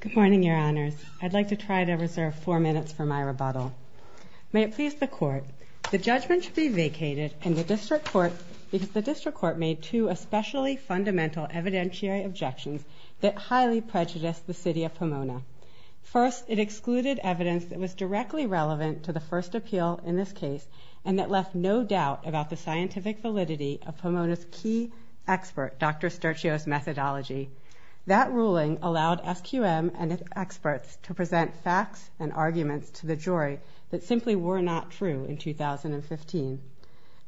Good morning, Your Honors. I'd like to try to reserve four minutes for my rebuttal. May it please the Court, the judgment should be vacated because the District Court made two especially fundamental evidentiary objections that highly prejudiced the City of Pomona. First, it excluded evidence that was directly relevant to the first appeal in this case and that left no doubt about the scientific validity of Pomona's key expert, Dr. Sturteo's methodology. That ruling allowed SQM and its experts to present facts and arguments to the jury that simply were not true in 2015.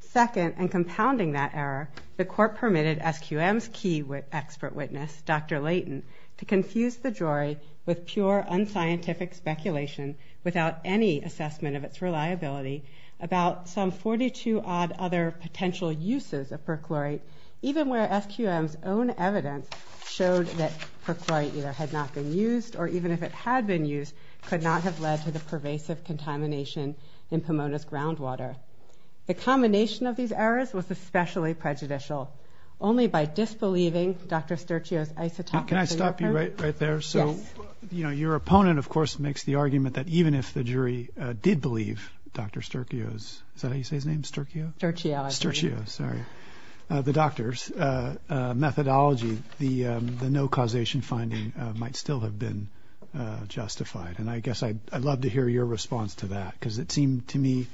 Second, and compounding that error, the Court permitted SQM's key expert witness, Dr. Layton, to confuse the jury with pure unscientific speculation without any assessment of its reliability about some 42-odd other potential uses of perchlorate, even where SQM's own evidence showed that perchlorate either had not been used or even if it had been used, could not have led to the pervasive contamination in Pomona's groundwater. The combination of these errors was especially prejudicial. Only by disbelieving Dr. Sturteo's isotopic... Can I stop you right there? Yes. So, you know, your opponent, of course, makes the argument that even if the jury did believe Dr. Sturteo's... Is that how you say his name, Sturteo? Sturteo, I believe. Sturteo, sorry. The doctor's methodology, the no causation finding, might still have been justified. And I guess I'd love to hear your response to that because it seemed to me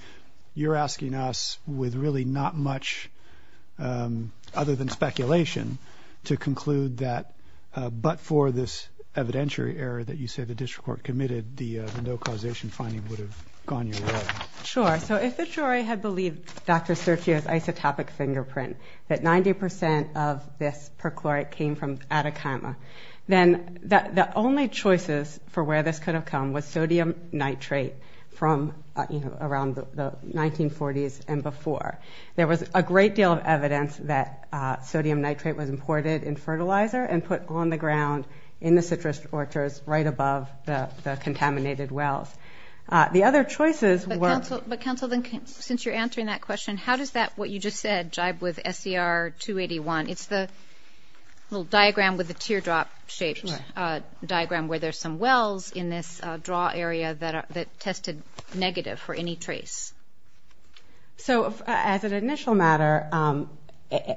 you're asking us with really not much other than speculation to conclude that, but for this evidentiary error that you say the district court committed, the no causation finding would have gone your way. Sure. So if the jury had believed Dr. Sturteo's isotopic fingerprint, that 90% of this perchlorate came from Atacama, then the only choices for where this could have come was sodium nitrate from around the 1940s and before. There was a great deal of evidence that sodium nitrate was imported in fertilizer and put on the ground in the citrus orchards right above the contaminated wells. The other choices were... But, counsel, since you're answering that question, how does that, what you just said, jibe with SCR 281? It's the little diagram with the teardrop-shaped diagram where there's some wells in this draw area that tested negative for any trace. So as an initial matter,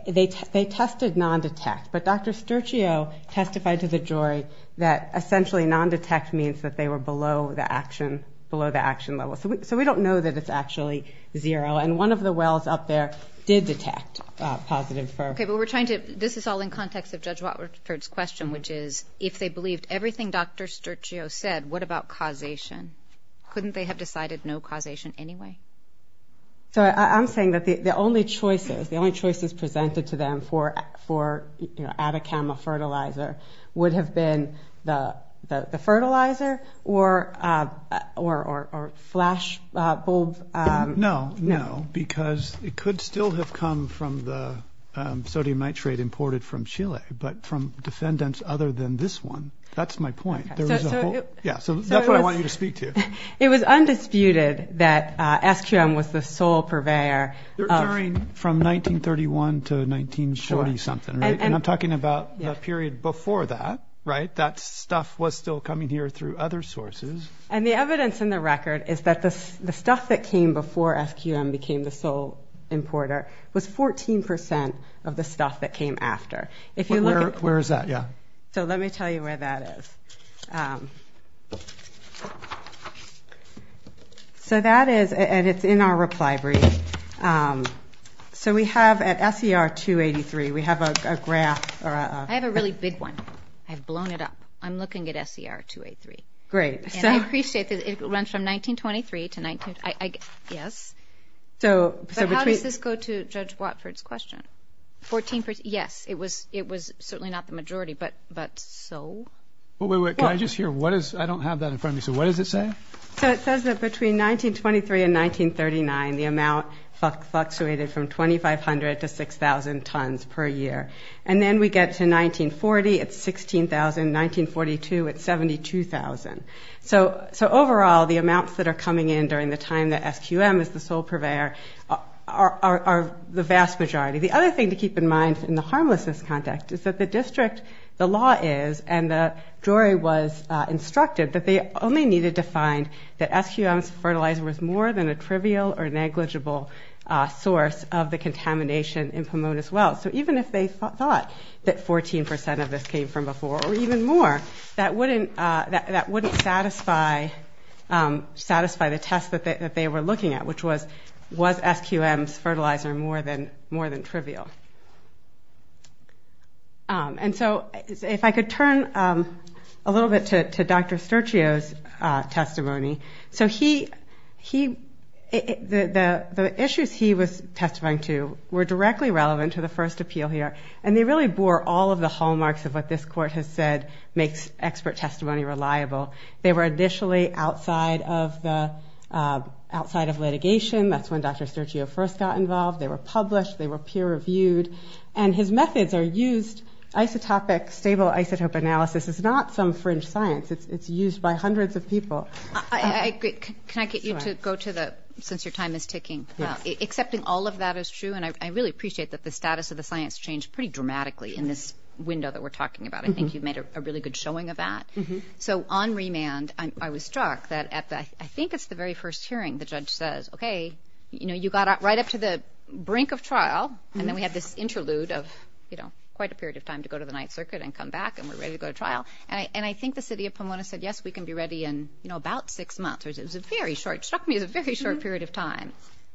they tested non-detect. But Dr. Sturteo testified to the jury that essentially non-detect means that they were below the action level. So we don't know that it's actually zero. And one of the wells up there did detect positive for... Okay, but we're trying to, this is all in context of Judge Watford's question, which is if they believed everything Dr. Sturteo said, what about causation? Couldn't they have decided no causation anyway? So I'm saying that the only choices, the only choices presented to them for Atacama fertilizer would have been the fertilizer or flash bulb... No, no, because it could still have come from the sodium nitrate imported from Chile, but from defendants other than this one. That's my point. Yeah, so that's what I want you to speak to. It was undisputed that SQM was the sole purveyor of... From 1931 to 1940-something, right? And I'm talking about the period before that, right? That stuff was still coming here through other sources. And the evidence in the record is that the stuff that came before SQM became the sole importer was 14% of the stuff that came after. Where is that? So let me tell you where that is. So that is, and it's in our reply brief. So we have at SER 283, we have a graph... I have a really big one. I've blown it up. I'm looking at SER 283. Great. And I appreciate that it runs from 1923 to 19... Yes. But how does this go to Judge Watford's question? Yes, it was certainly not the majority, but so? Wait, wait, wait. Can I just hear? I don't have that in front of me. So what does it say? So it says that between 1923 and 1939, the amount fluctuated from 2,500 to 6,000 tons per year. And then we get to 1940, it's 16,000. 1942, it's 72,000. So overall, the amounts that are coming in during the time that SQM is the sole purveyor are the vast majority. The other thing to keep in mind in the harmlessness context is that the district, the law is, and the jury was instructed that they only needed to find that SQM's fertilizer was more than a trivial or negligible source of the contamination in Pomona's wells. So even if they thought that 14 percent of this came from before or even more, that wouldn't satisfy the test that they were looking at, which was, was SQM's fertilizer more than trivial? And so if I could turn a little bit to Dr. Sturgeo's testimony. So he, the issues he was testifying to were directly relevant to the first appeal here, and they really bore all of the hallmarks of what this court has said makes expert testimony reliable. They were initially outside of the, outside of litigation. That's when Dr. Sturgeo first got involved. They were published. They were peer-reviewed. And his methods are used, isotopic, stable isotope analysis is not some fringe science. It's used by hundreds of people. Can I get you to go to the, since your time is ticking. Accepting all of that is true, and I really appreciate that the status of the science changed pretty dramatically in this window that we're talking about. I think you made a really good showing of that. So on remand, I was struck that at the, I think it's the very first hearing, the judge says, okay, you know, you got right up to the brink of trial, and then we had this interlude of, you know, quite a period of time to go to the Ninth Circuit and come back, and we're ready to go to trial. And I think the city of Pomona said, yes, we can be ready in, you know, about six months. It was a very short, struck me as a very short period of time.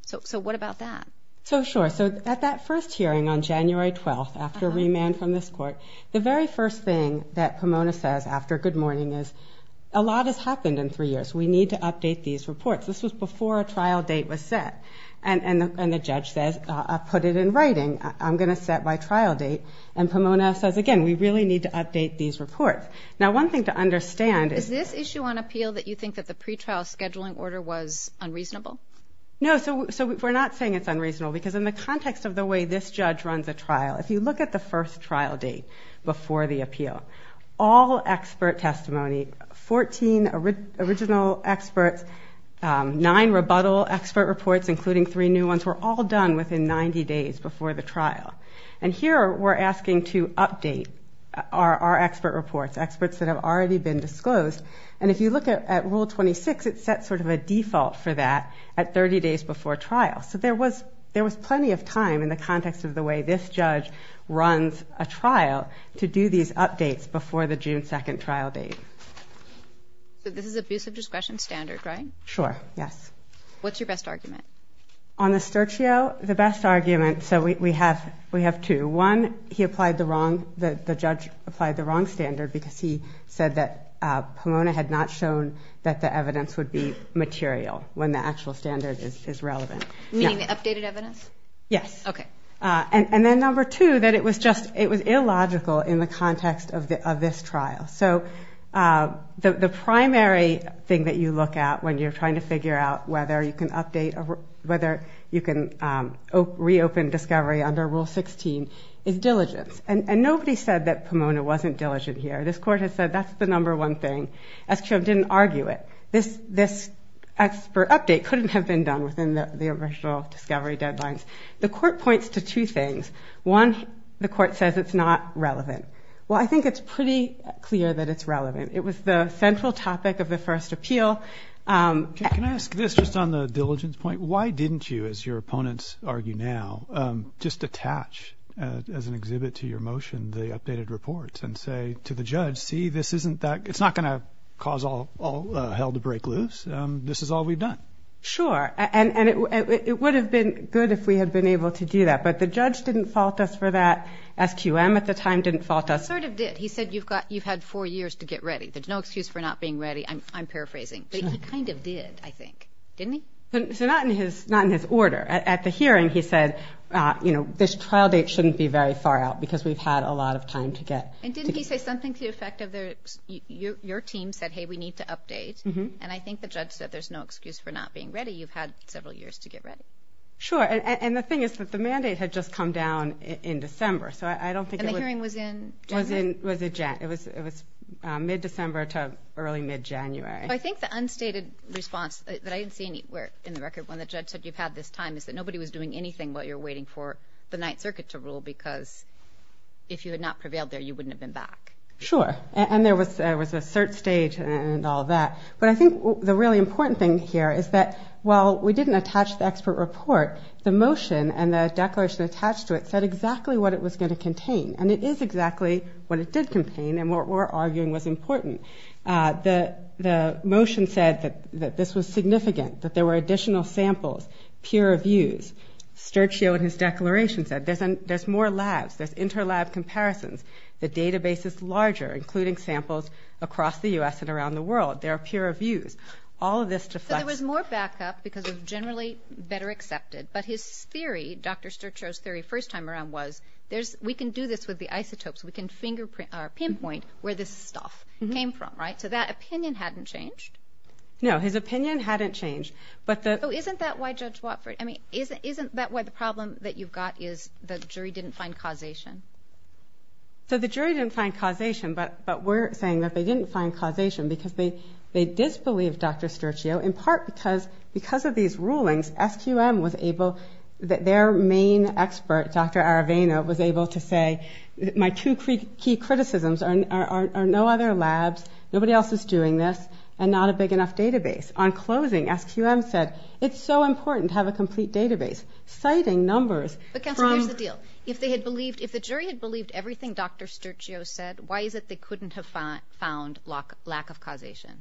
So what about that? So, sure. So at that first hearing on January 12th, after remand from this court, the very first thing that Pomona says after good morning is, a lot has happened in three years. We need to update these reports. This was before a trial date was set. And the judge says, put it in writing. I'm going to set my trial date. And Pomona says, again, we really need to update these reports. Now, one thing to understand is. Is this issue on appeal that you think that the pretrial scheduling order was unreasonable? No. So we're not saying it's unreasonable, because in the context of the way this judge runs a trial, if you look at the first trial date before the appeal, all expert testimony, 14 original experts, nine rebuttal expert reports, including three new ones, were all done within 90 days before the trial. And here we're asking to update our expert reports, experts that have already been disclosed. And if you look at Rule 26, it sets sort of a default for that at 30 days before trial. So there was plenty of time in the context of the way this judge runs a trial to do these updates before the June 2nd trial date. So this is abusive discretion standard, right? Sure, yes. What's your best argument? On the Sturgeo, the best argument, so we have two. One, he applied the wrong, the judge applied the wrong standard, because he said that Pomona had not shown that the evidence would be material when the actual standard is relevant. Meaning the updated evidence? Yes. Okay. And then number two, that it was just, it was illogical in the context of this trial. So the primary thing that you look at when you're trying to figure out whether you can update, whether you can reopen discovery under Rule 16, is diligence. And nobody said that Pomona wasn't diligent here. This court has said that's the number one thing. SQM didn't argue it. This expert update couldn't have been done within the original discovery deadlines. The court points to two things. One, the court says it's not relevant. Well, I think it's pretty clear that it's relevant. It was the central topic of the first appeal. Can I ask this just on the diligence point? Why didn't you, as your opponents argue now, just attach, as an exhibit to your motion, the updated reports and say to the judge, see, this isn't that, it's not going to cause all hell to break loose. This is all we've done. Sure. And it would have been good if we had been able to do that. But the judge didn't fault us for that. SQM at the time didn't fault us. He sort of did. He said you've had four years to get ready. There's no excuse for not being ready. I'm paraphrasing. But he kind of did, I think. Didn't he? Not in his order. At the hearing, he said, you know, this trial date shouldn't be very far out because we've had a lot of time to get. And didn't he say something to the effect of your team said, hey, we need to update. And I think the judge said there's no excuse for not being ready. You've had several years to get ready. Sure. And the thing is that the mandate had just come down in December. And the hearing was in January? It was mid-December to early mid-January. I think the unstated response that I didn't see anywhere in the record when the judge said you've had this time is that nobody was doing anything while you're waiting for the Ninth Circuit to rule because if you had not prevailed there, you wouldn't have been back. Sure. And there was a cert stage and all that. But I think the really important thing here is that while we didn't attach the expert report, the motion and the declaration attached to it said exactly what it was going to contain. And it is exactly what it did contain and what we're arguing was important. The motion said that this was significant, that there were additional samples, peer reviews. Sturgeo in his declaration said there's more labs. There's inter-lab comparisons. The database is larger, including samples across the U.S. and around the world. There are peer reviews. All of this deflects. So there was more backup because it was generally better accepted. But his theory, Dr. Sturgeo's theory first time around was we can do this with the isotopes. We can pinpoint where this stuff came from, right? So that opinion hadn't changed. No, his opinion hadn't changed. So isn't that why Judge Watford, I mean, isn't that why the problem that you've got is the jury didn't find causation? So the jury didn't find causation, but we're saying that they didn't find causation because they disbelieved Dr. Sturgeo in part because of these rulings, SQM was able, their main expert, Dr. Aravena, was able to say my two key criticisms are no other labs, nobody else is doing this, and not a big enough database. On closing, SQM said it's so important to have a complete database, citing numbers. But Counselor, here's the deal. If they had believed, if the jury had believed everything Dr. Sturgeo said, why is it they couldn't have found lack of causation?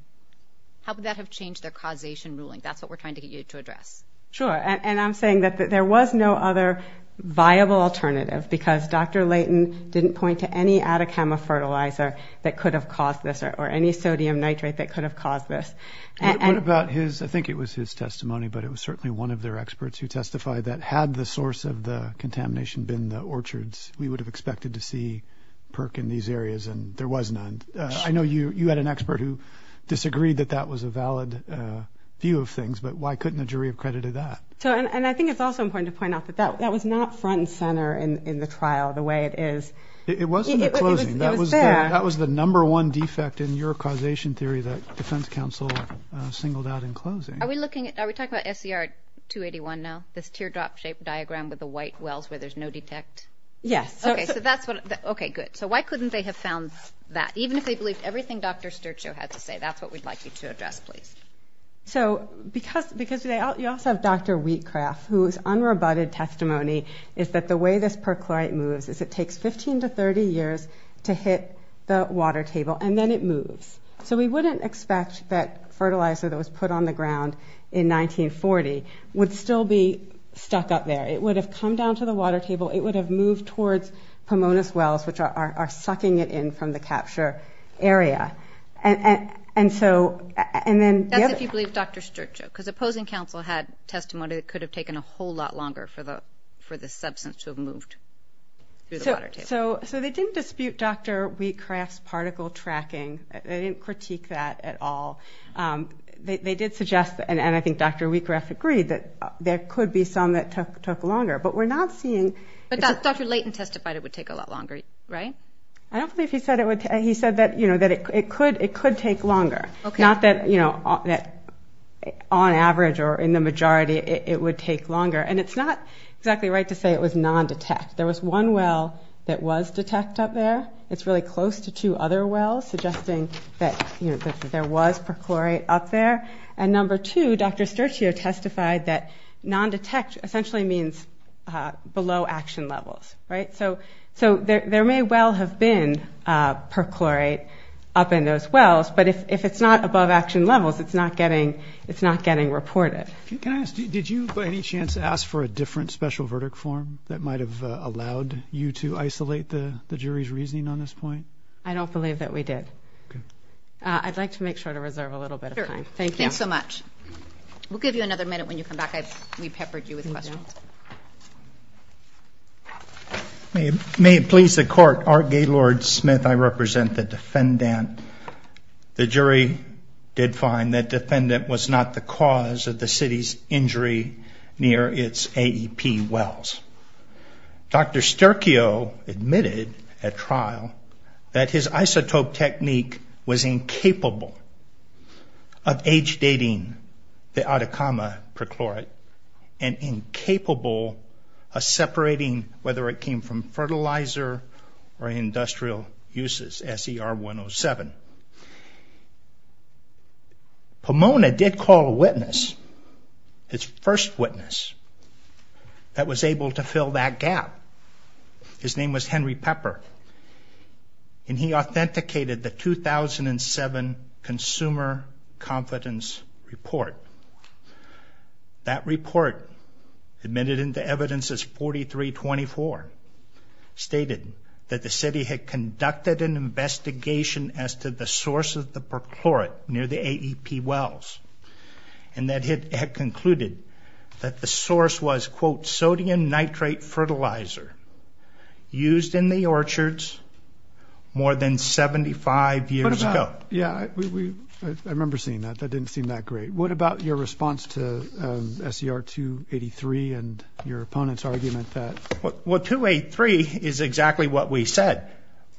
How could that have changed their causation ruling? That's what we're trying to get you to address. Sure, and I'm saying that there was no other viable alternative because Dr. Leighton didn't point to any Atacama fertilizer that could have caused this or any sodium nitrate that could have caused this. What about his, I think it was his testimony, but it was certainly one of their experts who testified that had the source of the contamination been the orchards, we would have expected to see PERC in these areas, and there was none. I know you had an expert who disagreed that that was a valid view of things, but why couldn't the jury have credited that? And I think it's also important to point out that that was not front and center in the trial the way it is. It wasn't at closing. It was there. That was the number one defect in your causation theory that defense counsel singled out in closing. Are we talking about SCR 281 now, this teardrop-shaped diagram with the white wells where there's no detect? Yes. Okay, good. So why couldn't they have found that, even if they believed everything Dr. Sturchow had to say? That's what we'd like you to address, please. So because you also have Dr. Wheatcraft, whose unrebutted testimony is that the way this perchlorate moves is it takes 15 to 30 years to hit the water table, and then it moves. So we wouldn't expect that fertilizer that was put on the ground in 1940 would still be stuck up there. It would have come down to the water table. It would have moved towards Pomona's Wells, which are sucking it in from the capture area. And so, and then the other – That's if you believe Dr. Sturchow, because opposing counsel had testimony that could have taken a whole lot longer for the substance to have moved through the water table. So they didn't dispute Dr. Wheatcraft's particle tracking. They didn't critique that at all. They did suggest, and I think Dr. Wheatcraft agreed, that there could be some that took longer. But we're not seeing – But Dr. Leighton testified it would take a lot longer, right? I don't believe he said it would – he said that, you know, that it could take longer. Not that, you know, on average or in the majority, it would take longer. And it's not exactly right to say it was non-detect. There was one well that was detect up there. It's really close to two other wells, suggesting that there was perchlorate up there. And number two, Dr. Sturchow testified that non-detect essentially means below action levels, right? So there may well have been perchlorate up in those wells, but if it's not above action levels, it's not getting reported. Can I ask, did you by any chance ask for a different special verdict form that might have allowed you to isolate the jury's reasoning on this point? I don't believe that we did. I'd like to make sure to reserve a little bit of time. Sure. Thank you. Thanks so much. We'll give you another minute when you come back. We peppered you with questions. May it please the Court, Art Gaylord Smith, I represent the defendant. The jury did find that defendant was not the cause of the city's injury near its AEP wells. Dr. Sturchow admitted at trial that his isotope technique was incapable of age-dating the Atacama perchlorate and incapable of separating whether it came from fertilizer or industrial uses, SER 107. Pomona did call a witness, his first witness, that was able to fill that gap. His name was Henry Pepper, and he authenticated the 2007 Consumer Confidence Report. That report, admitted into evidence as 4324, stated that the city had conducted an investigation as to the source of the perchlorate near the AEP wells and that it had concluded that the source was, quote, sodium nitrate fertilizer used in the orchards more than 75 years ago. Yeah, I remember seeing that. That didn't seem that great. What about your response to SER 283 and your opponent's argument that- Well, 283 is exactly what we said.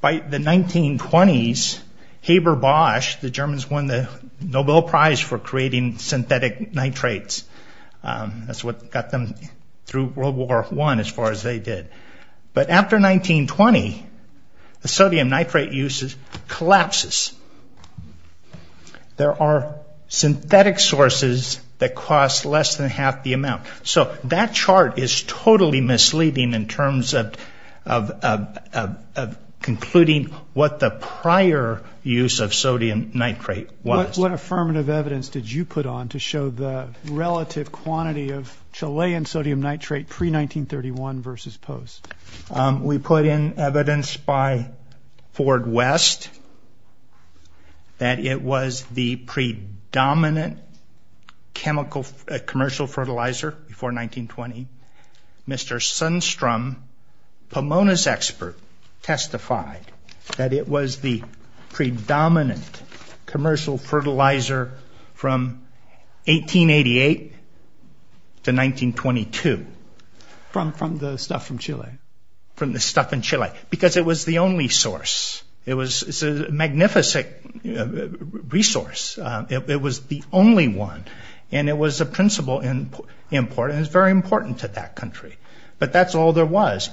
By the 1920s, Haber-Bosch, the Germans won the Nobel Prize for creating synthetic nitrates. That's what got them through World War I, as far as they did. But after 1920, the sodium nitrate use collapses. There are synthetic sources that cost less than half the amount. So that chart is totally misleading in terms of concluding what the prior use of sodium nitrate was. What affirmative evidence did you put on to show the relative quantity of Chilean sodium nitrate pre-1931 versus post? We put in evidence by Ford West that it was the predominant commercial fertilizer before 1920. Mr. Sundstrom, Pomona's expert, testified that it was the predominant commercial fertilizer from 1888 to 1922. From the stuff from Chile? From the stuff in Chile. Because it was the only source. It was a magnificent resource. It was the only one. And it was a principal import, and it was very important to that country. But that's all there was.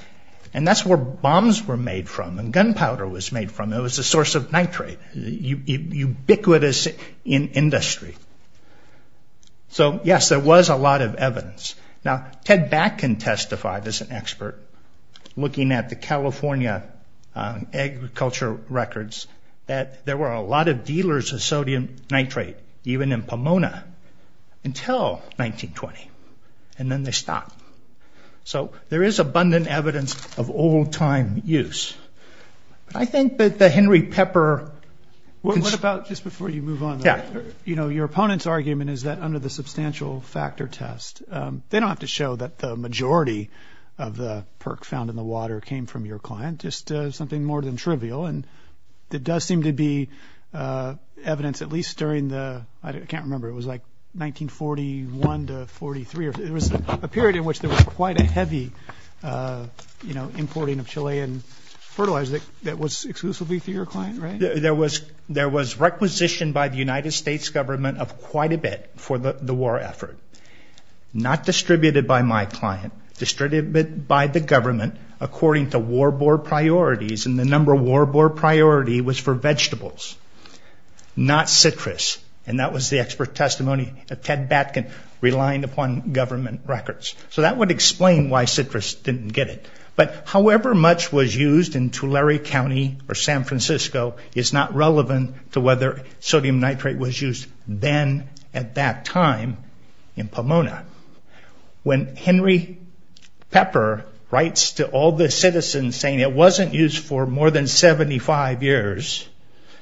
And that's where bombs were made from and gunpowder was made from. It was a source of nitrate. Ubiquitous in industry. So, yes, there was a lot of evidence. Now, Ted Batkin testified as an expert, looking at the California agriculture records, that there were a lot of dealers of sodium nitrate, even in Pomona, until 1920. And then they stopped. So there is abundant evidence of old-time use. But I think that the Henry Pepper... What about just before you move on? You know, your opponent's argument is that under the substantial factor test, they don't have to show that the majority of the perk found in the water came from your client, just something more than trivial. And there does seem to be evidence, at least during the... I can't remember. It was like 1941 to 43. There was a period in which there was quite a heavy, you know, importing of Chilean fertilizer that was exclusively for your client, right? And there was requisition by the United States government of quite a bit for the war effort. Not distributed by my client. Distributed by the government according to war bore priorities, and the number of war bore priority was for vegetables, not citrus. And that was the expert testimony of Ted Batkin, relying upon government records. So that would explain why citrus didn't get it. But however much was used in Tulare County or San Francisco is not relevant to whether sodium nitrate was used then at that time in Pomona. When Henry Pepper writes to all the citizens saying it wasn't used for more than 75 years,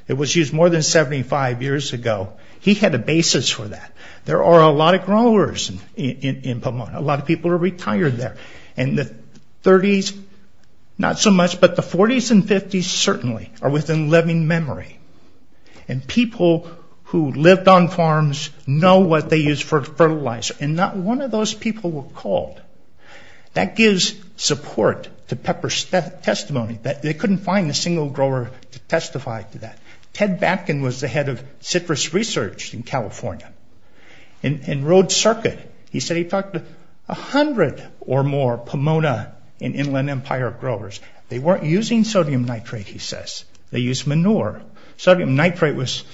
it was used more than 75 years ago, he had a basis for that. There are a lot of growers in Pomona. A lot of people are retired there. And the 30s, not so much, but the 40s and 50s certainly are within living memory. And people who lived on farms know what they use for fertilizer, and not one of those people were called. That gives support to Pepper's testimony that they couldn't find a single grower to testify to that. Ted Batkin was the head of citrus research in California. In Road Circuit, he said he talked to 100 or more Pomona and Inland Empire growers. They weren't using sodium nitrate, he says. They used manure. Sodium nitrate was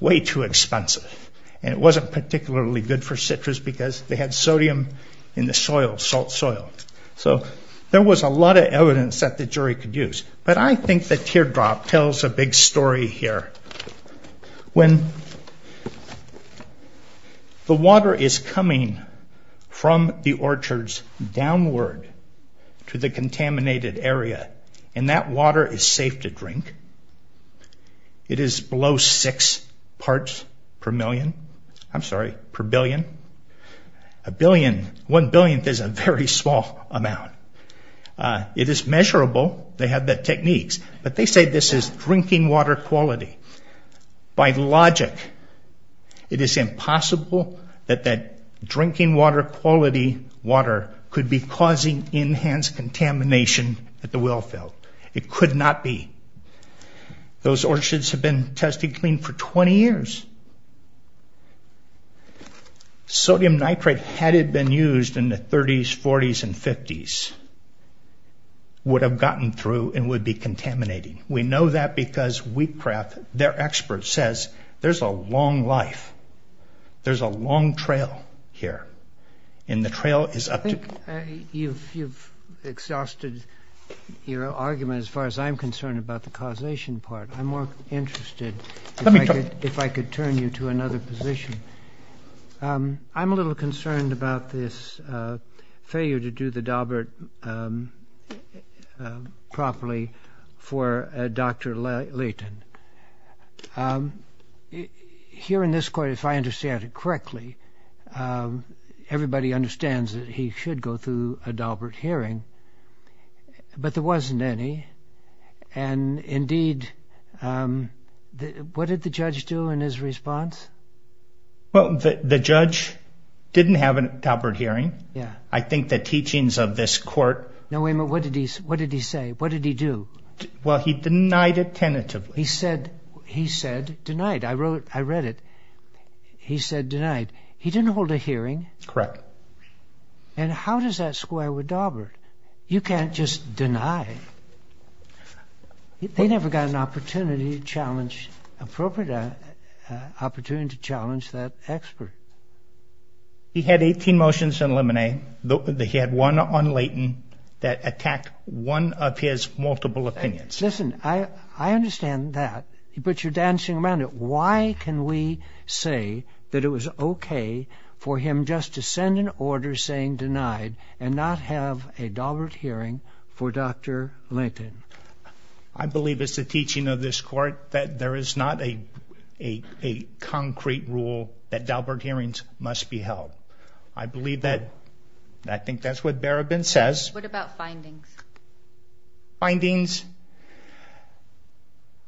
way too expensive. And it wasn't particularly good for citrus because they had sodium in the soil, salt soil. So there was a lot of evidence that the jury could use. But I think the teardrop tells a big story here. When the water is coming from the orchards downward to the contaminated area, and that water is safe to drink, it is below six parts per million. I'm sorry, per billion. One billionth is a very small amount. It is measurable. They have the techniques. But they say this is drinking water quality. By logic, it is impossible that that drinking water quality water could be causing enhanced contamination at the well field. It could not be. Those orchards have been tested clean for 20 years. Sodium nitrate, had it been used in the 30s, 40s, and 50s, would have gotten through and would be contaminating. We know that because Wheatcraft, their expert, says there's a long life. There's a long trail here. And the trail is up to- I think you've exhausted your argument as far as I'm concerned about the causation part. I'm more interested if I could turn you to another position. I'm a little concerned about this failure to do the Daubert properly for Dr. Leighton. Here in this court, if I understand it correctly, everybody understands that he should go through a Daubert hearing, but there wasn't any. And indeed, what did the judge do in his response? Well, the judge didn't have a Daubert hearing. I think the teachings of this court- No, wait a minute. What did he say? What did he do? Well, he denied it tentatively. He said denied. I read it. He said denied. He didn't hold a hearing. Correct. And how does that square with Daubert? You can't just deny. They never got an opportunity to challenge- appropriate opportunity to challenge that expert. He had 18 motions in limine. He had one on Leighton that attacked one of his multiple opinions. Listen, I understand that. But you're dancing around it. Why can we say that it was okay for him just to send an order saying denied and not have a Daubert hearing for Dr. Leighton? I believe it's the teaching of this court that there is not a concrete rule that Daubert hearings must be held. I believe that. I think that's what Barabin says. What about findings? Findings?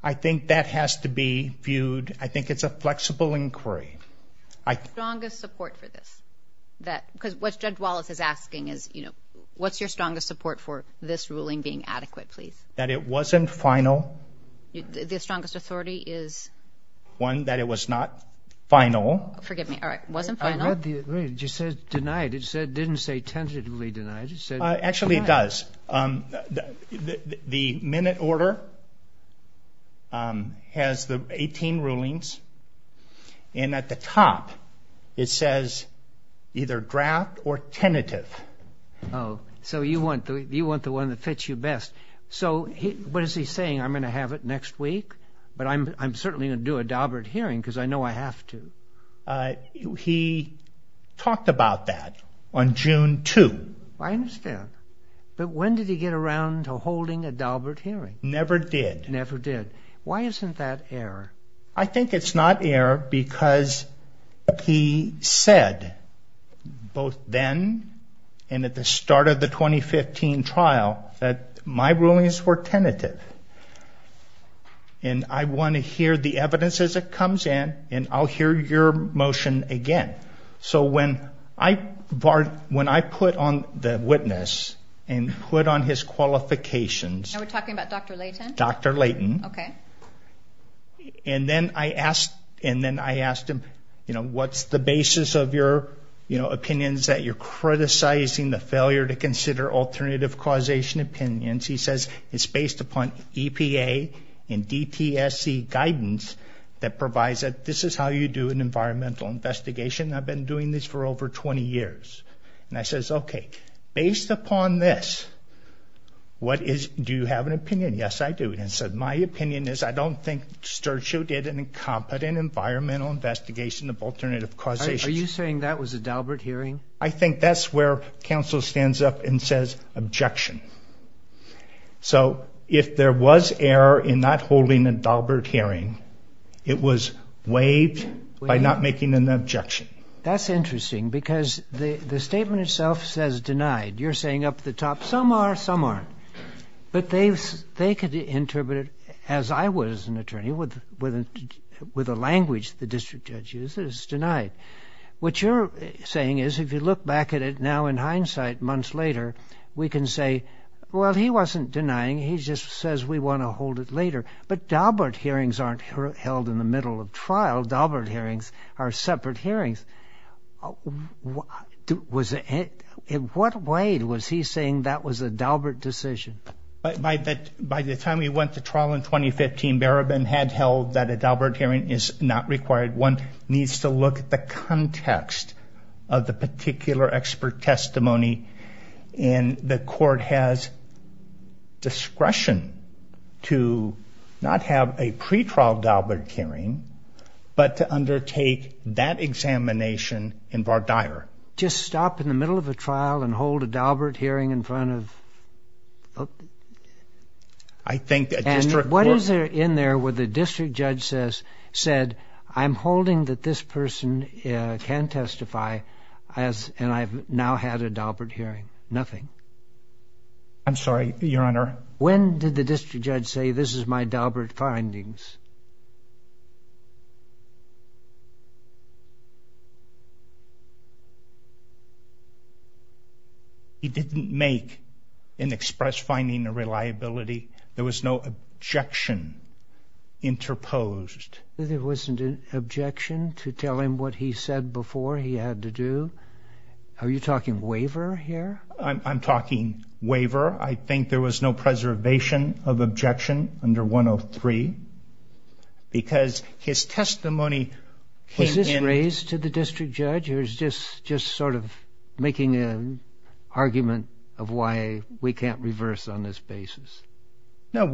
I think that has to be viewed. I think it's a flexible inquiry. What's your strongest support for this? Because what Judge Wallace is asking is, you know, what's your strongest support for this ruling being adequate, please? That it wasn't final. The strongest authority is? One, that it was not final. Forgive me. All right. It wasn't final? I read the agreement. It just said denied. It didn't say tentatively denied. It just said denied. Actually, it does. The minute order has the 18 rulings, and at the top it says either draft or tentative. Oh, so you want the one that fits you best. So what is he saying? I'm going to have it next week, but I'm certainly going to do a Daubert hearing because I know I have to. He talked about that on June 2. I understand. But when did he get around to holding a Daubert hearing? Never did. Never did. Why isn't that error? I think it's not error because he said both then and at the start of the 2015 trial that my rulings were tentative, and I want to hear the evidence as it comes in, and I'll hear your motion again. So when I put on the witness and put on his qualifications. Now we're talking about Dr. Layton? Dr. Layton. Okay. And then I asked him, you know, what's the basis of your opinions that you're criticizing the failure to consider alternative causation opinions? He says it's based upon EPA and DTSC guidance that provides that this is how you do an environmental investigation. I've been doing this for over 20 years. And I says, okay, based upon this, what is do you have an opinion? Yes, I do. And he said my opinion is I don't think Sturgeon did an incompetent environmental investigation of alternative causation. Are you saying that was a Daubert hearing? I think that's where counsel stands up and says objection. So if there was error in not holding a Daubert hearing, it was waived by not making an objection. That's interesting because the statement itself says denied. You're saying up at the top, some are, some aren't. But they could interpret it as I was an attorney with a language the district judge uses, it's denied. What you're saying is if you look back at it now in hindsight months later, we can say, well, he wasn't denying. He just says we want to hold it later. But Daubert hearings aren't held in the middle of trial. Daubert hearings are separate hearings. In what way was he saying that was a Daubert decision? By the time we went to trial in 2015, Barabin had held that a Daubert hearing is not required. One needs to look at the context of the particular expert testimony, and the court has discretion to not have a pretrial Daubert hearing, but to undertake that examination in Vardyar. Just stop in the middle of a trial and hold a Daubert hearing in front of? I think a district court. Was there in there where the district judge said, I'm holding that this person can testify and I've now had a Daubert hearing? Nothing. I'm sorry, Your Honor. When did the district judge say this is my Daubert findings? He didn't make an express finding of reliability. There was no objection interposed. There wasn't an objection to tell him what he said before he had to do? Are you talking waiver here? I'm talking waiver. I think there was no preservation of objection under 103, because his testimony came in. Was this raised to the district judge, making an argument of why we can't reverse on this basis? No.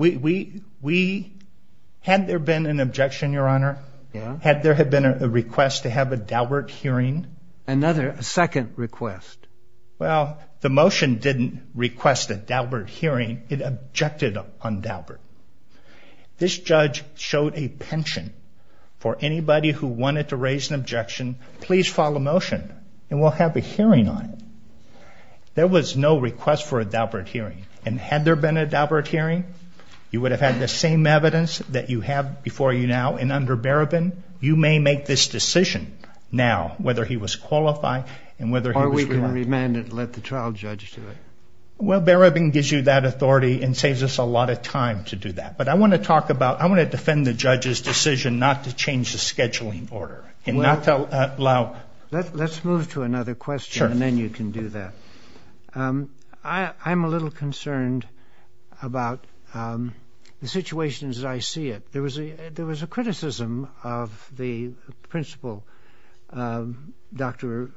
Had there been an objection, Your Honor? Yeah. Had there been a request to have a Daubert hearing? A second request. Well, the motion didn't request a Daubert hearing. It objected on Daubert. This judge showed a penchant for anybody who wanted to raise an objection, please file a motion, and we'll have a hearing on it. There was no request for a Daubert hearing. And had there been a Daubert hearing, you would have had the same evidence that you have before you now, and under Barabin, you may make this decision now, whether he was qualified and whether he was correct. Or we can remand it and let the trial judge do it. Well, Barabin gives you that authority and saves us a lot of time to do that. But I want to talk about, I want to defend the judge's decision not to change the scheduling order and not to allow. Let's move to another question, and then you can do that. I'm a little concerned about the situation as I see it. There was a criticism of the principal, Dr.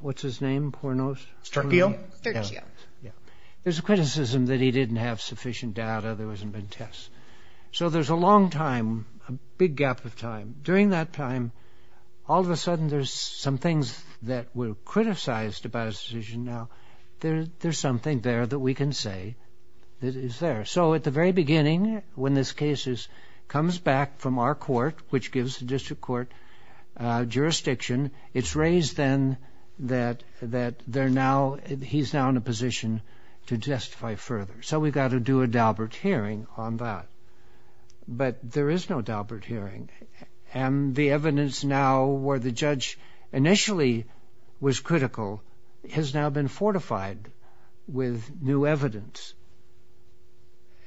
what's his name, Pornos? Sterkio? Sterkio. There's a criticism that he didn't have sufficient data, there wasn't been tests. So there's a long time, a big gap of time. During that time, all of a sudden, there's some things that were criticized about his decision. Now, there's something there that we can say that is there. So at the very beginning, when this case comes back from our court, which gives the district court jurisdiction, it's raised then that he's now in a position to justify further. So we've got to do a Daubert hearing on that. But there is no Daubert hearing. And the evidence now where the judge initially was critical has now been fortified with new evidence.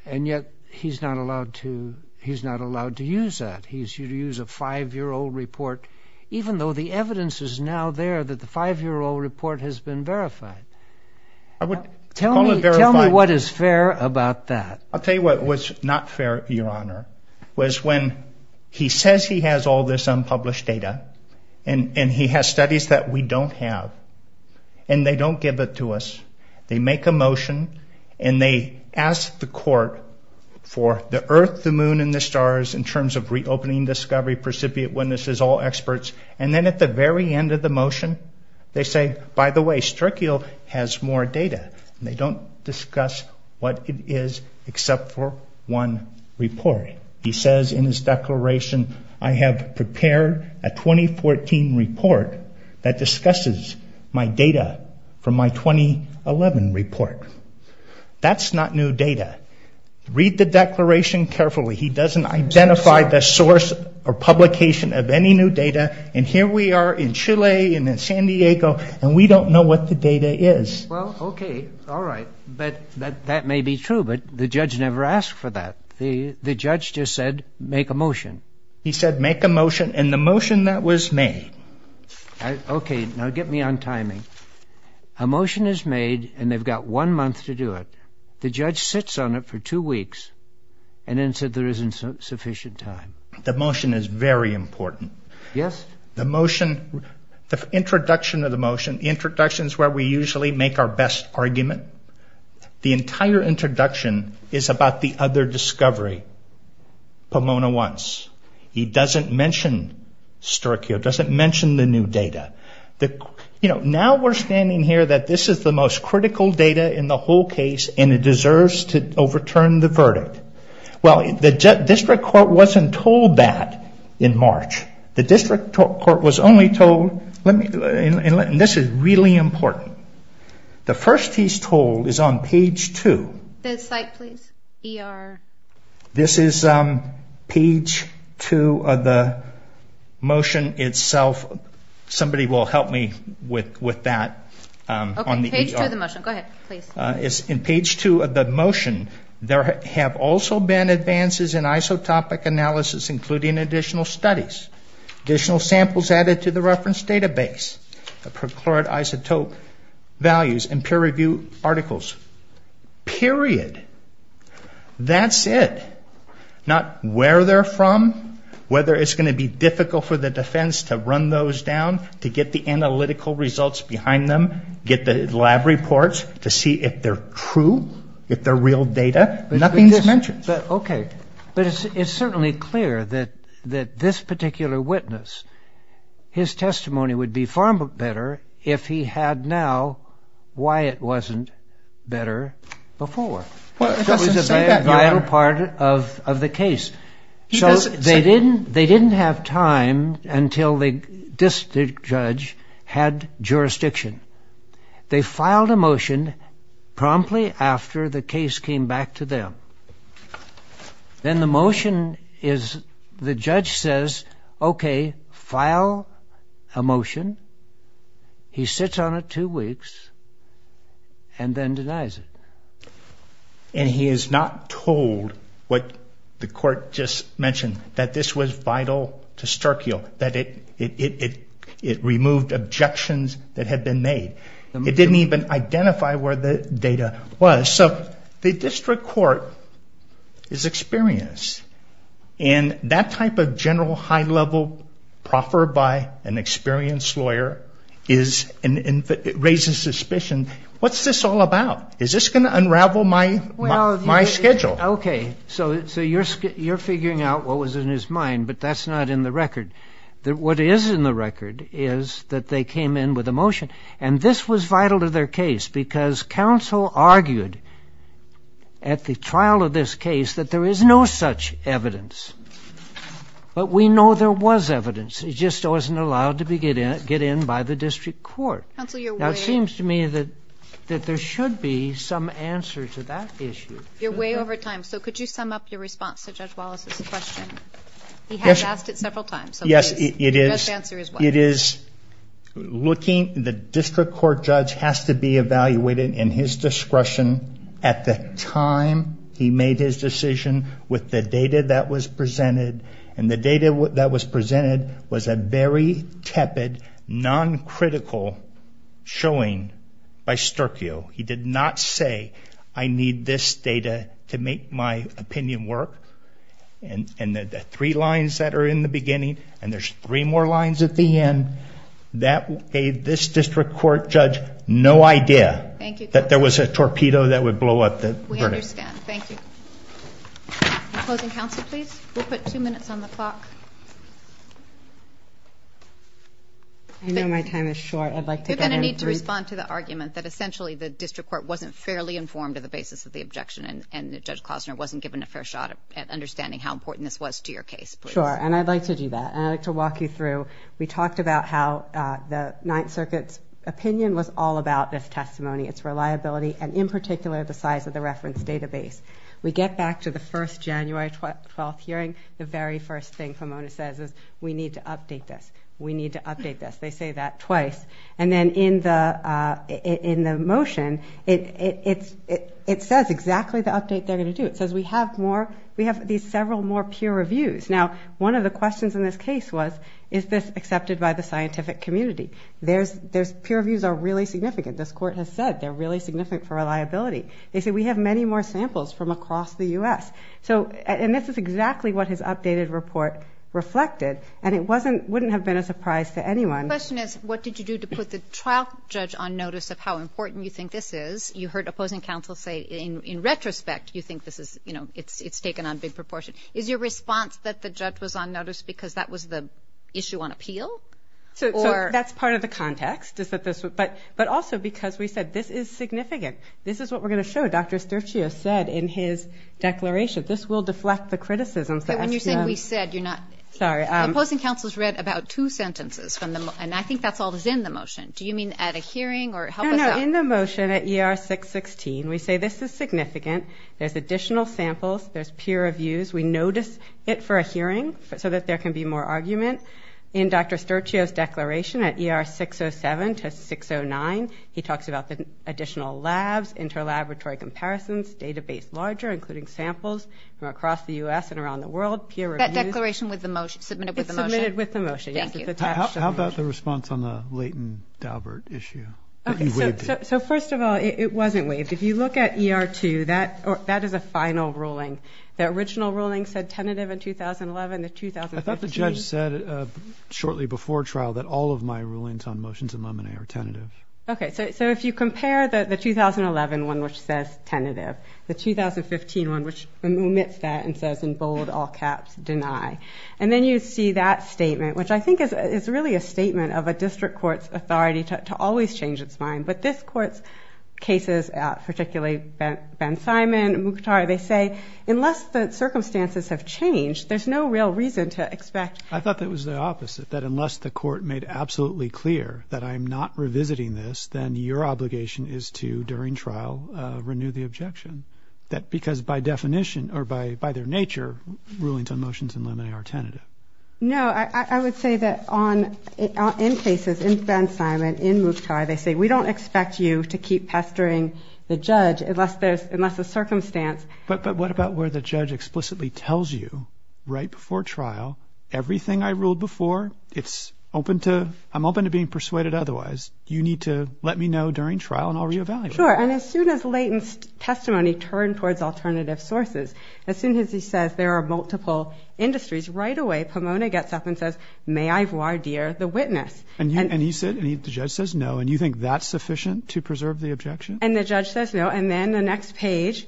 And yet he's not allowed to use that. He's used a five-year-old report, even though the evidence is now there that the five-year-old report has been verified. Tell me what is fair about that. I'll tell you what was not fair, Your Honor, was when he says he has all this unpublished data, and he has studies that we don't have, and they don't give it to us. They make a motion, and they ask the court for the Earth, the Moon, and the stars in terms of reopening discovery, precipitate witnesses, all experts. And then at the very end of the motion, they say, By the way, STRICIO has more data. They don't discuss what it is except for one report. He says in his declaration, I have prepared a 2014 report that discusses my data from my 2011 report. That's not new data. Read the declaration carefully. He doesn't identify the source or publication of any new data. And here we are in Chile and in San Diego, and we don't know what the data is. Well, okay, all right, but that may be true, but the judge never asked for that. The judge just said, Make a motion. He said, Make a motion, and the motion that was made. Okay, now get me on timing. A motion is made, and they've got one month to do it. The judge sits on it for two weeks, and then said there isn't sufficient time. The motion is very important. Yes. The motion, the introduction of the motion, the introduction is where we usually make our best argument. The entire introduction is about the other discovery. Pomona wants. He doesn't mention STRICIO, doesn't mention the new data. Now we're standing here that this is the most critical data in the whole case, and it deserves to overturn the verdict. Well, the district court wasn't told that in March. The district court was only told, and this is really important. The first he's told is on page 2. The site, please, ER. This is page 2 of the motion itself. Somebody will help me with that on the ER. Okay, page 2 of the motion. Go ahead, please. In page 2 of the motion, there have also been advances in isotopic analysis, including additional studies. Additional samples added to the reference database. Procured isotope values and peer review articles. Period. That's it. Not where they're from, whether it's going to be difficult for the defense to run those down, to get the analytical results behind them, get the lab reports to see if they're true, if they're real data. Nothing is mentioned. Okay. But it's certainly clear that this particular witness, his testimony would be far better if he had now why it wasn't better before. Well, it doesn't say that. That was a vital part of the case. They didn't have time until the district judge had jurisdiction. They filed a motion promptly after the case came back to them. Then the motion is the judge says, okay, file a motion. He sits on it two weeks and then denies it. He is not told what the court just mentioned, that this was vital to Sturkeel, that it removed objections that had been made. It didn't even identify where the data was. So the district court is experienced. That type of general high-level proffer by an experienced lawyer raises suspicion. What's this all about? Is this going to unravel my schedule? Okay. So you're figuring out what was in his mind, but that's not in the record. What is in the record is that they came in with a motion, and this was vital to their case because counsel argued at the trial of this case that there is no such evidence. But we know there was evidence. It just wasn't allowed to get in by the district court. Now it seems to me that there should be some answer to that issue. You're way over time. So could you sum up your response to Judge Wallace's question? He has asked it several times. Yes, it is. It is looking. The district court judge has to be evaluated in his discretion at the time he made his decision with the data that was presented, and the data that was presented was a very tepid, non-critical showing by Sturkeo. He did not say, I need this data to make my opinion work. And the three lines that are in the beginning, and there's three more lines at the end, that gave this district court judge no idea that there was a torpedo that would blow up the verdict. We understand. Thank you. Closing counsel, please. We'll put two minutes on the clock. I know my time is short. I'd like to get in. You're going to need to respond to the argument that essentially the district court wasn't fairly informed of the basis of the objection, and Judge Klozner wasn't given a fair shot at understanding how important this was to your case, please. Sure, and I'd like to do that. And I'd like to walk you through. We talked about how the Ninth Circuit's opinion was all about this testimony, its reliability, and in particular the size of the reference database. We get back to the first January 12th hearing, the very first thing Pomona says is, we need to update this. We need to update this. They say that twice. And then in the motion, it says exactly the update they're going to do. It says we have these several more peer reviews. Now, one of the questions in this case was, is this accepted by the scientific community? Peer reviews are really significant. This court has said they're really significant for reliability. They say we have many more samples from across the U.S. And this is exactly what his updated report reflected, and it wouldn't have been a surprise to anyone. The question is, what did you do to put the trial judge on notice of how important you think this is? You heard opposing counsel say, in retrospect, you think it's taken on big proportion. Is your response that the judge was on notice because that was the issue on appeal? So that's part of the context, but also because we said this is significant. This is what we're going to show. Dr. Sturchio said in his declaration. This will deflect the criticisms. When you're saying we said, you're not. Sorry. Opposing counsel has read about two sentences from the motion, and I think that's all that's in the motion. Do you mean at a hearing or help us out? No, no. In the motion at ER 616, we say this is significant. There's additional samples. There's peer reviews. We notice it for a hearing so that there can be more argument. In Dr. Sturchio's declaration at ER 607 to 609, he talks about the additional labs, interlaboratory comparisons, database larger, including samples from across the U.S. and around the world, peer reviews. That declaration was submitted with the motion. It's submitted with the motion. Thank you. How about the response on the Leighton-Daubert issue? So first of all, it wasn't waived. If you look at ER 2, that is a final ruling. The original ruling said tentative in 2011. I thought the judge said shortly before trial that all of my rulings on Okay, so if you compare the 2011 one, which says tentative, the 2015 one, which omits that and says in bold, all caps, deny, and then you see that statement, which I think is really a statement of a district court's authority to always change its mind, but this court's cases, particularly Ben Simon and Mukhtar, they say, unless the circumstances have changed, there's no real reason to expect. I thought that was the opposite, that unless the court made absolutely clear that I'm not revisiting this, then your obligation is to, during trial, renew the objection. Because by definition or by their nature, rulings on motions in limine are tentative. No, I would say that in cases, in Ben Simon, in Mukhtar, they say, we don't expect you to keep pestering the judge unless there's a circumstance. But what about where the judge explicitly tells you right before trial, everything I ruled before, it's open to, I'm open to being persuaded otherwise. You need to let me know during trial and I'll reevaluate. Sure, and as soon as latent testimony turned towards alternative sources, as soon as he says there are multiple industries, right away Pomona gets up and says, may I voir dire the witness? And he said, and the judge says no, and you think that's sufficient to preserve the objection? And the judge says no, and then the next page,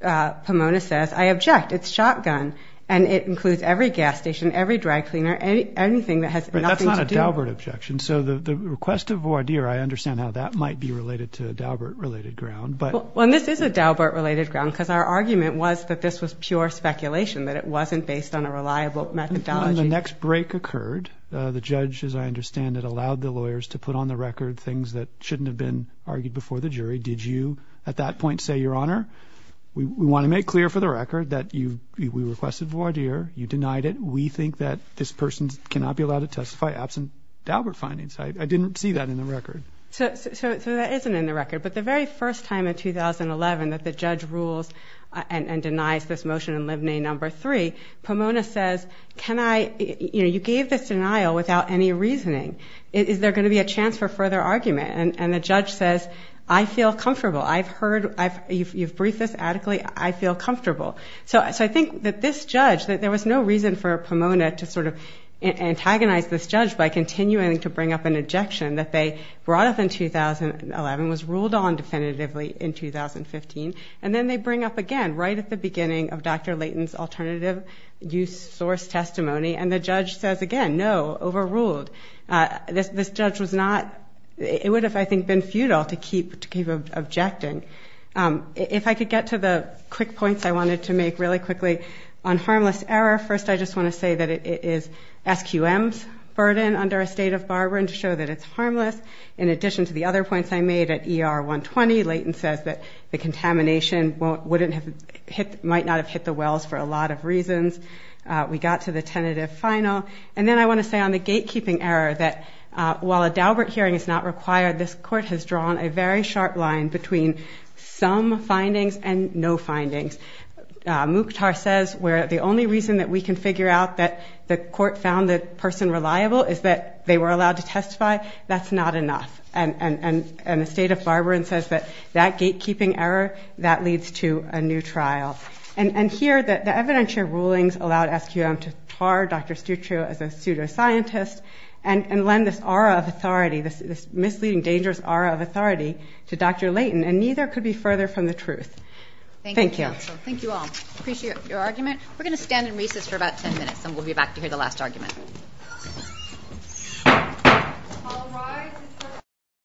Pomona says, I object. It's shotgun, and it includes every gas station, every dry cleaner, anything that has nothing to do. But that's not a Daubert objection. So the request of voir dire, I understand how that might be related to a Daubert-related ground. Well, this is a Daubert-related ground because our argument was that this was pure speculation, that it wasn't based on a reliable methodology. The next break occurred. The judge, as I understand it, allowed the lawyers to put on the record things that shouldn't have been argued before the jury. Did you at that point say, Your Honor, we want to make clear for the record that we requested voir dire. You denied it. We think that this person cannot be allowed to testify absent Daubert findings. I didn't see that in the record. So that isn't in the record, but the very first time in 2011 that the judge rules and denies this motion in Lib Nay No. 3, Pomona says, you gave this denial without any reasoning. Is there going to be a chance for further argument? And the judge says, I feel comfortable. I've heard you've briefed this adequately. I feel comfortable. So I think that this judge, that there was no reason for Pomona to sort of antagonize this judge by continuing to bring up an ejection that they brought up in 2011, was ruled on definitively in 2015, and then they bring up again right at the beginning of Dr. Layton's alternative use source testimony, and the judge says again, no, overruled. This judge was not, it would have, I think, been futile to keep objecting. If I could get to the quick points I wanted to make really quickly on harmless error, first I just want to say that it is SQM's burden under a state of Barbara to show that it's harmless. In addition to the other points I made at ER 120, Layton says that the contamination might not have hit the wells for a lot of reasons. We got to the tentative final. And then I want to say on the gatekeeping error that while a Daubert hearing is not required, this court has drawn a very sharp line between some findings and no findings. Mukhtar says the only reason that we can figure out that the court found the person reliable is that they were allowed to testify. That's not enough. And the state of Barbara says that that gatekeeping error, that leads to a new trial. And here the evidentiary rulings allowed SQM to tar Dr. Stuccio as a pseudoscientist and lend this aura of authority, this misleading, dangerous aura of authority to Dr. Layton, and neither could be further from the truth. Thank you. Thank you, counsel. Thank you all. Appreciate your argument. We're going to stand and recess for about ten minutes, and we'll be back to hear the last argument. All rise.